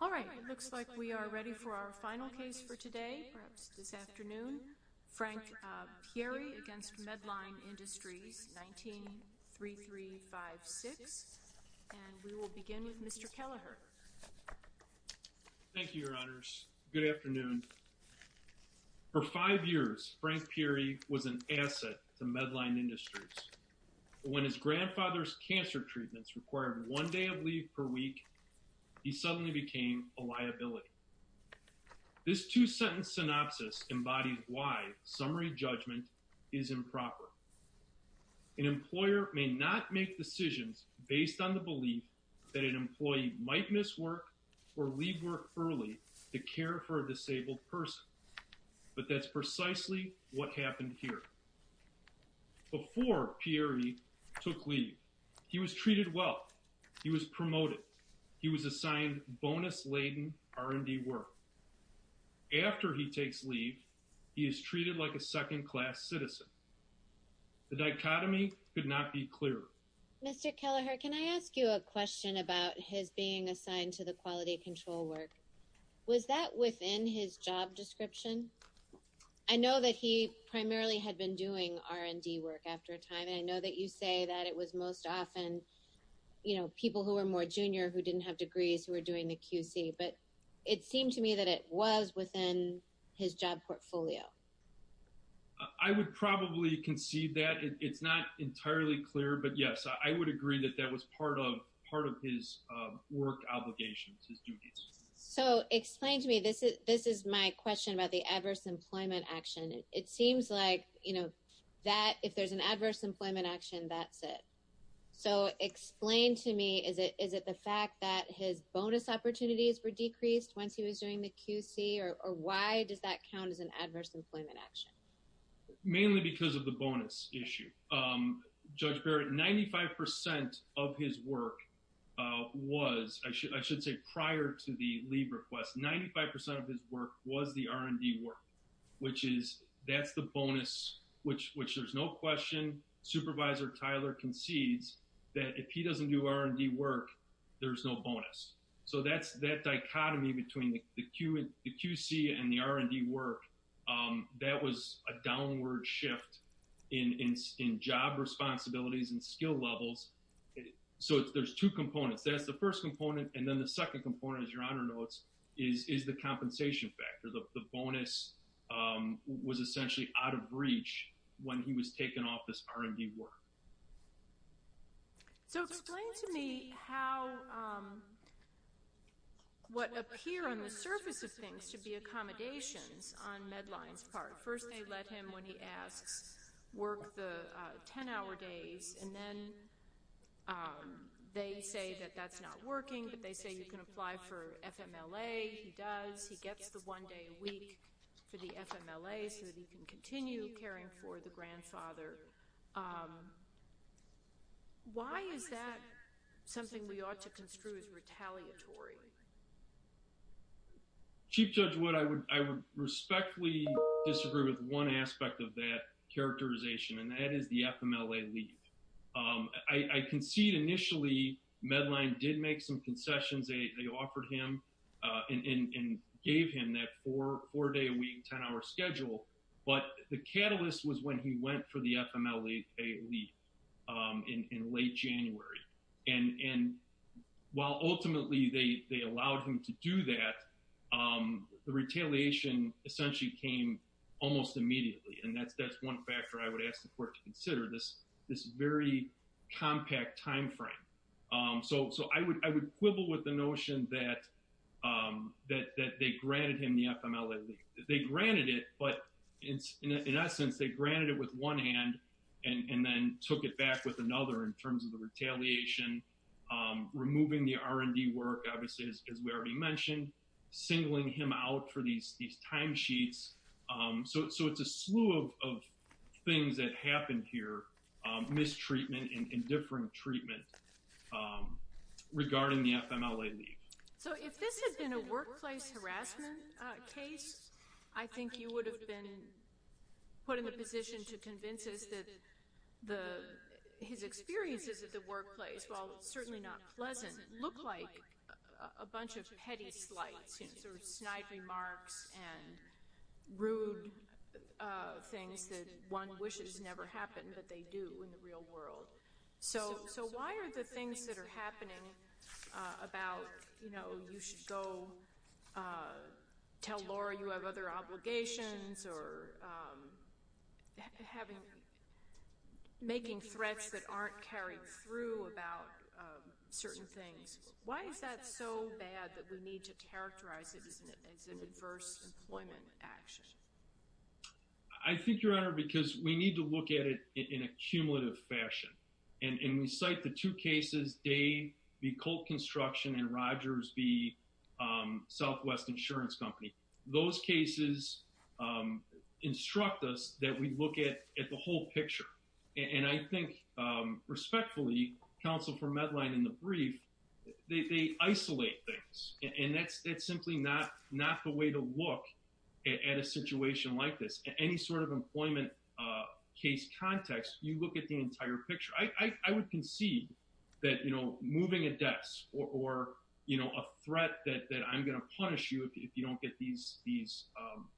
All right, it looks like we are ready for our final case for today, perhaps this afternoon. Frank Pierri v. Medline Industries, 19-3356. We will begin with Mr. Kelleher. Thank you, Your Honors. Good afternoon. For five years, Frank Pierri was an asset to Medline Industries. When his grandfather's cancer treatments required one day of leave per week, he suddenly became a liability. This two-sentence synopsis embodies why summary judgment is improper. An employer may not make decisions based on the belief that an employee might miss work or leave work early to care for a disabled person, but that's precisely what happened here. Before Pierri took leave, he was treated well. He was promoted. He was assigned bonus-laden R&D work. After he takes leave, he is treated like a second-class citizen. The dichotomy could not be clearer. Mr. Kelleher, can I ask you a question about his being assigned to the quality control work? Was that within his job description? I know that he primarily had been doing R&D work after a time, and I know that you say that it was most often, people who were more junior, who didn't have degrees, who were doing the QC, but it seemed to me that it was within his job portfolio. I would probably conceive that. It's not entirely clear, but yes, I would agree that that was part of his work obligations, his duties. So explain to me, this is my question about the adverse employment action. It seems like that, if there's an adverse employment action, that's it. So explain to me, is it the fact that his bonus opportunities were decreased once he was doing the QC, or why does that count as an adverse employment action? Mainly because of the bonus issue. Judge Barrett, 95% of his work was, I should say prior to the leave request, 95% of his work was the R&D work, which is, that's the question Supervisor Tyler concedes, that if he doesn't do R&D work, there's no bonus. So that's that dichotomy between the QC and the R&D work, that was a downward shift in job responsibilities and skill levels. So there's two components. That's the first component, and then the second component, as your Honor notes, is the compensation factor. The bonus was essentially out of reach when he was taken off this R&D work. So explain to me how, what appear on the surface of things should be accommodations on Medline's part. First they let him, when he asks, work the 10-hour days, and then they say that that's not working, but they say you can apply for FMLA. He does. He gets the one day a week for the FMLA so that he can continue caring for the grandfather. Why is that something we ought to construe as retaliatory? Chief Judge Wood, I would respectfully disagree with one aspect of that characterization, and that is the FMLA leave. I concede initially Medline did make some concessions. They offered him and gave him that four-day-a-week, 10-hour schedule, but the catalyst was when he went for the FMLA leave in late January. And while ultimately they allowed him to do that, the retaliation essentially came almost immediately, and that's one factor I would quibble with the notion that they granted him the FMLA leave. They granted it, but in essence they granted it with one hand and then took it back with another in terms of the retaliation, removing the R&D work, obviously, as we already mentioned, singling him out for these time sheets. So it's a slew of things that happened here, mistreatment and indifferent treatment regarding the FMLA leave. So if this had been a workplace harassment case, I think you would have been put in a position to convince us that his experiences at the workplace, while certainly not pleasant, look like a bunch of petty slights, sort of snide remarks and rude things that one wishes never happened, but they do in the real world. So why are the things that are happening about, you know, you should go tell Laura you have other obligations or having, making threats that aren't carried through about certain things, why is that so bad that we need to characterize it as an adverse employment action? I think, Your Honor, because we need to look at it in a cumulative fashion, and we cite the two cases, Dave v. Colt Construction and Rogers v. Southwest Insurance Company. Those cases instruct us that we look at the whole picture. And I think, respectfully, counsel for Medline in the brief, they isolate things. And that's simply not the way to look at a situation like this. Any sort of employment case context, you look at the entire picture. I would concede that, you know, moving a desk or, you know, a threat that I'm going to punish you if you don't get these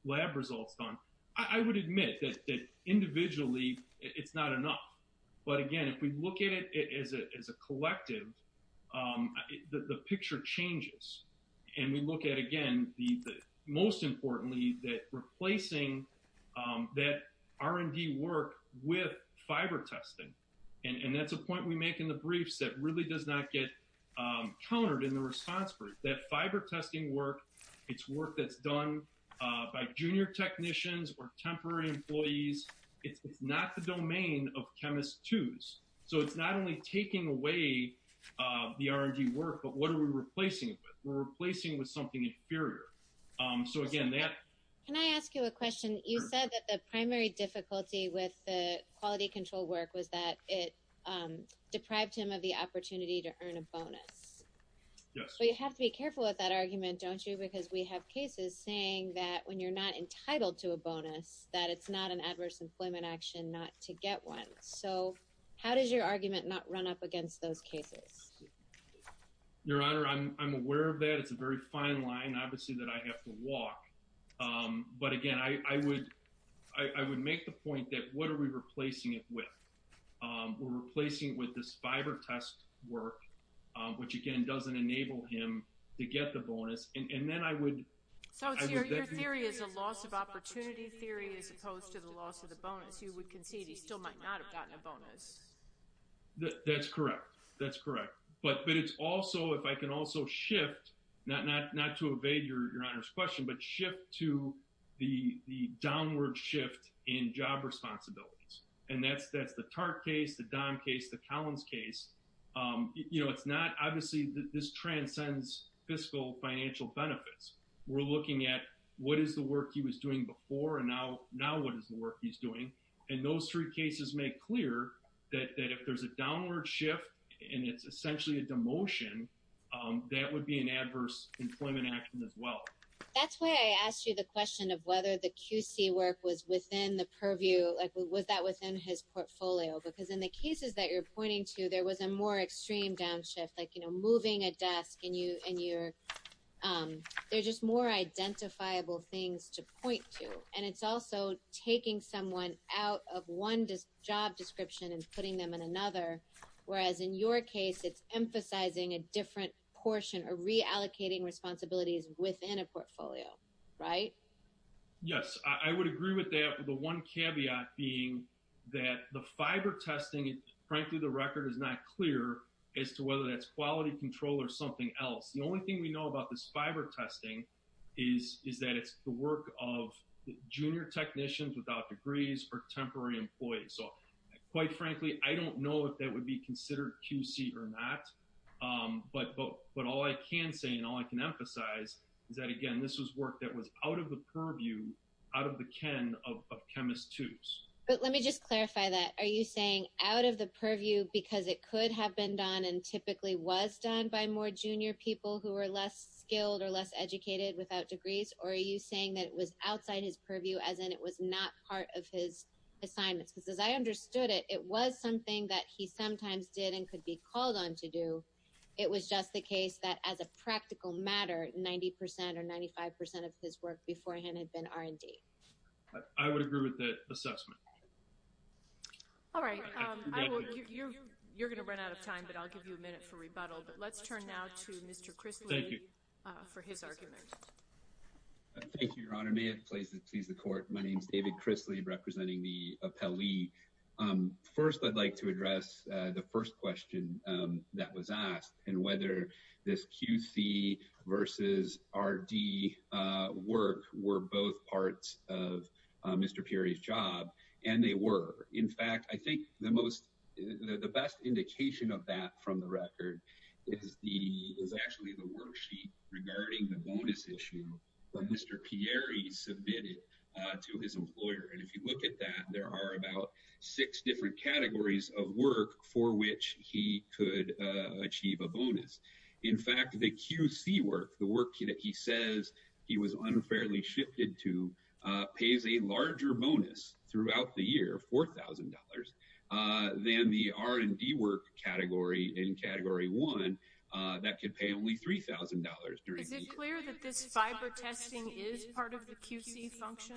lab results done, I would admit that individually, it's not enough. But again, if we look at it as a collective, the picture changes. And we look at, again, most importantly, that replacing that R&D work with fiber testing. And that's a point we make in the briefs that really does not get countered in the response brief. That fiber testing work, it's work that's done by junior technicians or temporary employees. It's not the domain of chemist twos. So it's not only taking away the R&D work, but what are we replacing it with? We're replacing it with something inferior. So again, that... Can I ask you a question? You said that the primary to earn a bonus. Yes. But you have to be careful with that argument, don't you? Because we have cases saying that when you're not entitled to a bonus, that it's not an adverse employment action not to get one. So how does your argument not run up against those cases? Your Honor, I'm aware of that. It's a very fine line, obviously, that I have to walk. But again, I would make the point that what are we replacing it with? We're replacing it with this fiber test work, which again, doesn't enable him to get the bonus. And then I would... So your theory is a loss of opportunity theory as opposed to the loss of the bonus. You would concede he still might not have gotten a bonus. That's correct. That's correct. But it's also, if I can also shift, not to evade your question, but shift to the downward shift in job responsibilities. And that's the TARP case, the DOM case, the Collins case. It's not... Obviously, this transcends fiscal financial benefits. We're looking at what is the work he was doing before and now what is the work he's doing. And those three cases make clear that if there's a downward shift and it's essentially a demotion, that would be an adverse employment action as well. That's why I asked you the question of whether the QC work was within the purview. Like, was that within his portfolio? Because in the cases that you're pointing to, there was a more extreme downshift, like moving a desk and you're... They're just more identifiable things to point to. And it's also taking someone out of one job description and putting them in another. Whereas in your case, it's emphasizing a different portion or reallocating responsibilities within a portfolio, right? Yes. I would agree with that. The one caveat being that the fiber testing, frankly, the record is not clear as to whether that's quality control or something else. The only thing we know about this fiber testing is that it's the work of junior technicians without degrees or temporary employees. So quite frankly, I don't know if that would be considered QC or not. But all I can say and all I can emphasize is that, again, this was work that was out of the purview, out of the ken of chemist twos. But let me just clarify that. Are you saying out of the purview because it could have been done and typically was done by more junior people who were less skilled or less educated without degrees? Or are you saying that it was outside his purview, as in it was not part of his assignments? Because as I understood it, it was something that he sometimes did and could be called on to do. It was just the case that as a practical matter, 90% or 95% of his work beforehand had been R&D. I would agree with that assessment. All right. You're going to run out of time, but I'll give you a minute for rebuttal. But let's My name is David Chrisley, representing the appellee. First, I'd like to address the first question that was asked and whether this QC versus R&D work were both parts of Mr. Pieri's job. And they were. In fact, I think the best indication of that from the record is actually the worksheet regarding the bonus issue that Mr. Pieri submitted to his employer. And if you look at that, there are about six different categories of work for which he could achieve a bonus. In fact, the QC work, the work that he says he was unfairly shifted to, pays a larger bonus throughout the Is it clear that this fiber testing is part of the QC function?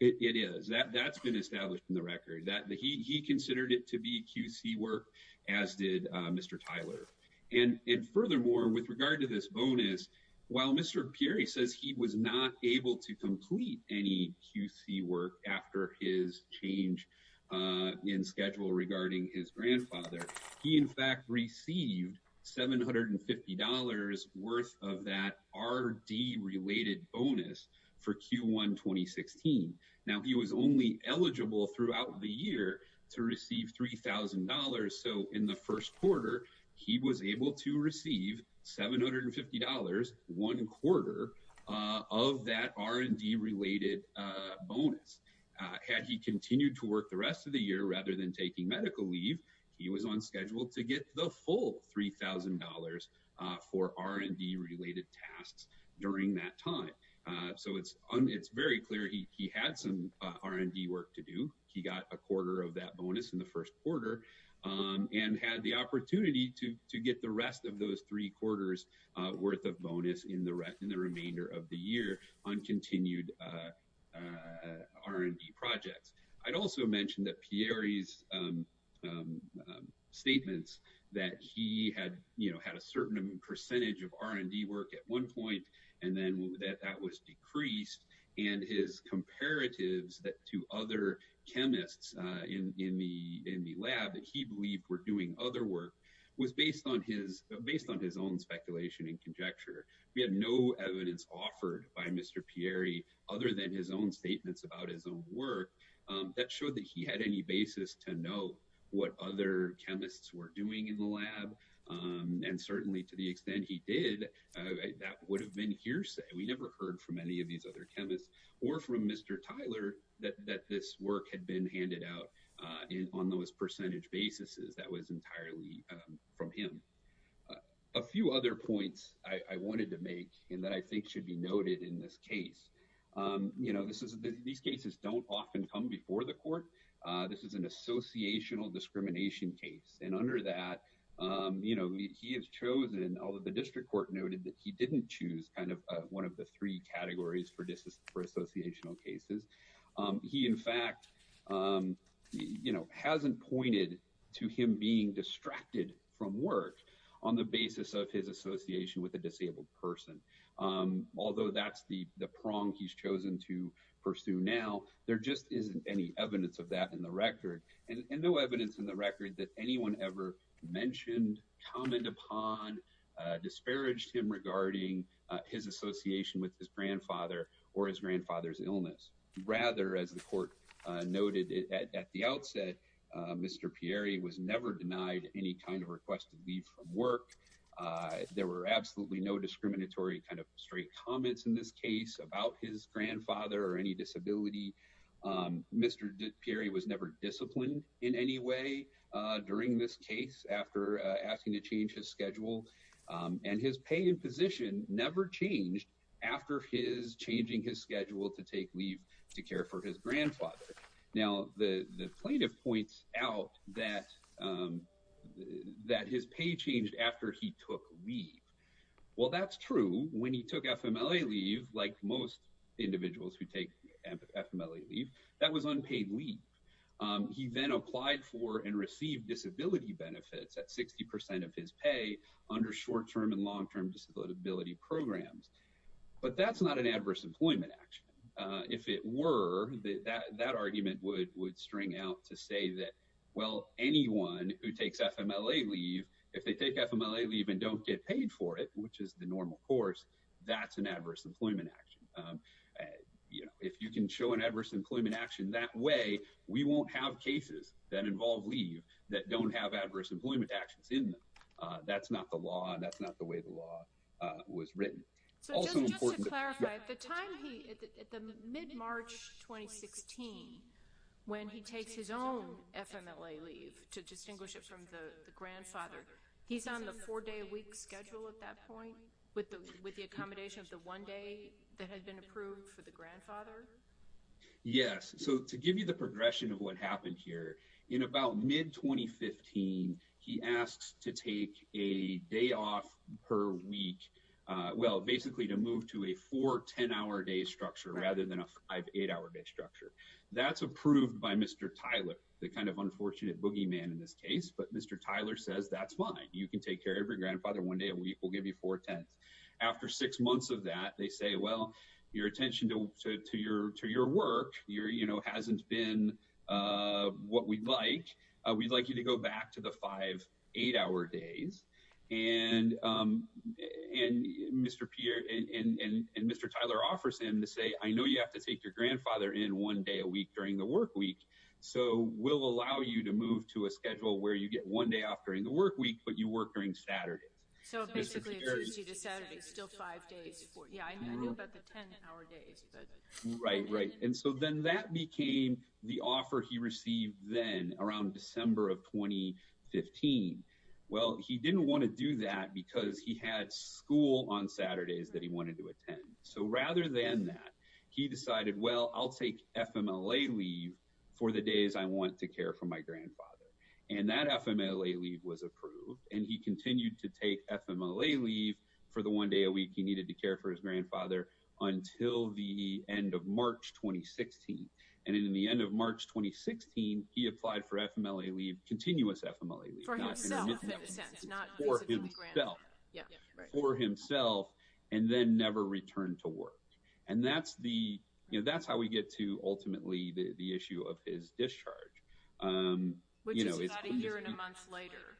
It is. That's been established in the record. He considered it to be QC work, as did Mr. Tyler. And furthermore, with regard to this bonus, while Mr. Pieri says he was not able to complete any QC work after his change in schedule regarding his grandfather, he in fact received $750 worth of that R&D related bonus for Q1 2016. Now, he was only eligible throughout the year to receive $3,000. So in the first quarter, he was able to receive $750, one quarter of that R&D related bonus. Had he continued to work the rest of the year rather than taking medical leave, he was on schedule to get the full $3,000 for R&D related tasks during that time. So it's very clear he had some R&D work to do. He got a quarter of that bonus in the first quarter and had the opportunity to get the rest of those three quarters worth of bonus in the remainder of the year on continued R&D projects. I'd also mention that Pieri's statements that he had, you know, had a certain percentage of R&D work at one point and then that that was decreased and his comparatives to other chemists in the lab that he believed were doing other work was based on his own speculation and conjecture. We had no evidence offered by Mr. Pieri other than his own statements about his own work that showed that he had any basis to know what other chemists were doing in the lab and certainly to the extent he did, that would have been hearsay. We never heard from any of these other chemists or from Mr. Tyler that this work had been handed out on those percentage basis that was entirely from him. A few other points I wanted to make and that I think should be noted in this case. You know, this is, these cases don't often come before the court. This is an associational discrimination case and under that, you know, he has chosen, although the district court noted that he didn't choose kind of one of the three hasn't pointed to him being distracted from work on the basis of his association with a disabled person. Although that's the prong he's chosen to pursue now, there just isn't any evidence of that in the record and no evidence in the record that anyone ever mentioned, commented upon, disparaged him regarding his association with his grandfather or his grandfather's illness. Rather, as the court noted at the outset, Mr. Pieri was never denied any kind of requested leave from work. There were absolutely no discriminatory kind of straight comments in this case about his grandfather or any disability. Mr. Pieri was never disciplined in any way during this case after asking to change his schedule and his pay and position never changed after his changing his schedule to take leave to care for his grandfather. Now, the plaintiff points out that his pay changed after he took leave. Well, that's true. When he took FMLA leave, like most individuals who take FMLA leave, that was unpaid leave. He then applied for and received disability benefits at 60% of his pay under short-term and long-term disability programs. But that's not an adverse employment action. If it were, that argument would string out to say that, well, anyone who takes FMLA leave, if they take FMLA leave and don't get paid for it, which is the normal course, that's an adverse employment action. You know, if you can show an adverse employment action that way, we won't have cases that involve leave that don't have adverse employment actions in them. That's not the law, and that's not the way the law was written. It's also important- So just to clarify, at the time he, at the mid-March 2016, when he takes his own FMLA leave, to distinguish it from the grandfather, he's on the four-day-a-week schedule at that point with the accommodation of the one day that had been approved for the teen. He asks to take a day off per week, well, basically to move to a four-ten-hour-a-day structure rather than a five-eight-hour-a-day structure. That's approved by Mr. Tyler, the kind of unfortunate boogeyman in this case, but Mr. Tyler says, that's fine. You can take care of your grandfather one day a week. We'll give you four-tenths. After six months of that, they say, well, your attention to your work hasn't been what we'd like. We'd like you to go back to the five-eight-hour days. And Mr. Tyler offers him to say, I know you have to take your grandfather in one day a week during the work week, so we'll allow you to move to a schedule where you get one day off during the work week, but you work during Saturdays. So basically, it's usually the Saturdays, still five days. Yeah, I know about the ten-hour days, but- Right, right. And so then that became the offer he received then around December of 2015. Well, he didn't want to do that because he had school on Saturdays that he wanted to attend. So rather than that, he decided, well, I'll take FMLA leave for the days I want to care for my grandfather. And that FMLA leave was approved, and he continued to take FMLA leave for the one day a week he of March 2016. And in the end of March 2016, he applied for FMLA leave, continuous FMLA leave- For himself, in a sense. For himself. For himself, and then never returned to work. And that's how we get to, ultimately, the issue of his discharge. Which is about a year and a month later,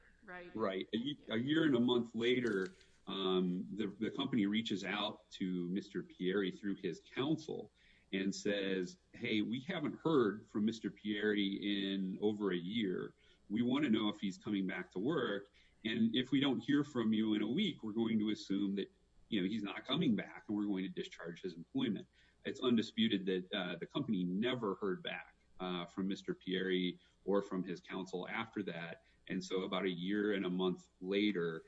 right? A year and a month later, the company reaches out to Mr. Pieri through his counsel and says, hey, we haven't heard from Mr. Pieri in over a year. We want to know if he's coming back to work. And if we don't hear from you in a week, we're going to assume that he's not coming back and we're going to discharge his employment. It's undisputed that the company never heard back from Mr. Pieri or from his counsel after that. And so about a year and a month later,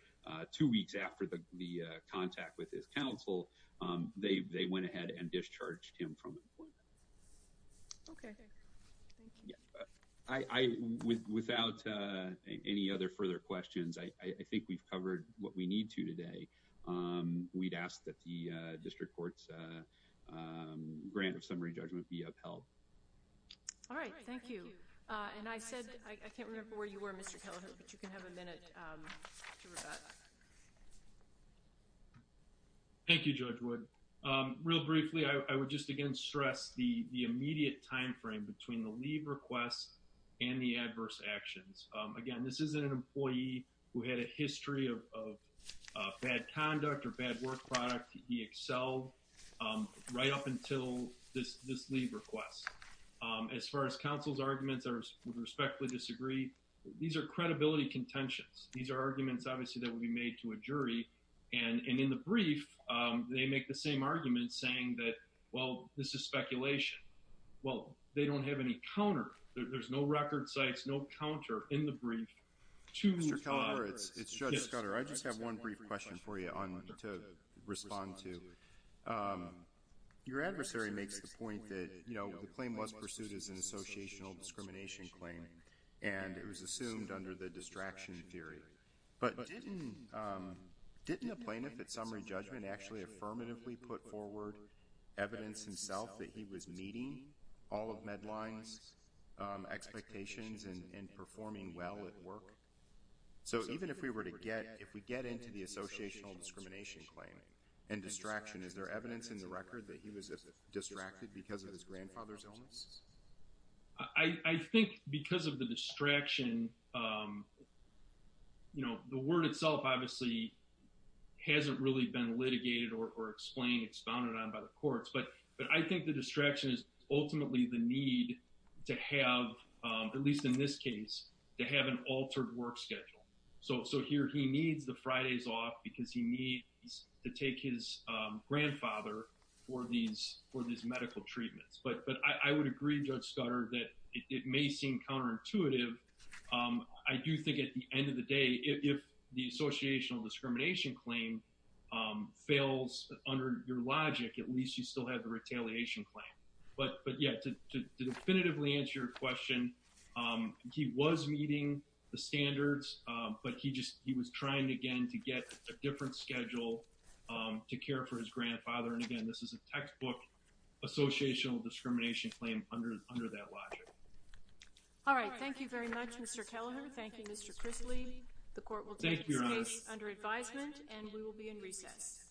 two weeks after the contact with his counsel, they went ahead and discharged him from employment. Okay. Without any other further questions, I think we've covered what we need to today. We'd ask that the district court's grant of summary judgment be upheld. All right. Thank you. And I said, I can't remember where you were, Mr. Kelleher, but you can have a minute to rebut. Thank you, Judge Wood. Real briefly, I would just again stress the immediate time frame between the leave requests and the adverse actions. Again, this isn't an employee who had a history of bad conduct or bad work product. He excelled right up until this leave request. As far as counsel's arguments, I would respectfully disagree. These are credibility contentions. These are arguments, obviously, that will be made to a jury and in the brief, they make the same argument saying that, well, this is speculation. Well, they don't have any counter. There's no record sites, no counter in the brief to- Mr. Kelleher, it's Judge Scudder. I just have one brief question for you to respond to. Your adversary makes the point that, you know, the claim was pursued as an associational discrimination claim and it was assumed under the distraction theory. But didn't a plaintiff at summary judgment actually affirmatively put forward evidence himself that he was meeting all of MEDLINE's expectations and performing well at work? So even if we were to get, if we get into the associational discrimination claim and distraction, is there evidence in the record that he was distracted because of his grandfather's illness? I think because of the distraction, you know, the word itself obviously hasn't really been litigated or explained. It's bounded on by the courts. But I think the distraction is ultimately the need to have, at least in this case, to have an altered work schedule. So here he needs the Fridays off because he needs to take his grandfather for these medical treatments. But I would agree, Judge Scudder, that it may seem counterintuitive. I do think at the end of the day, if the associational discrimination claim fails under your logic, at least you still have the retaliation claim. But yeah, to definitively answer your question, he was meeting the standards, but he just, he was trying again to get a different schedule to care for his grandfather. And again, this is a textbook associational discrimination claim under that logic. All right. Thank you very much, Mr. Kelleher. Thank you, Mr. Chrisley. The court will take this case under advisement and we will be in recess.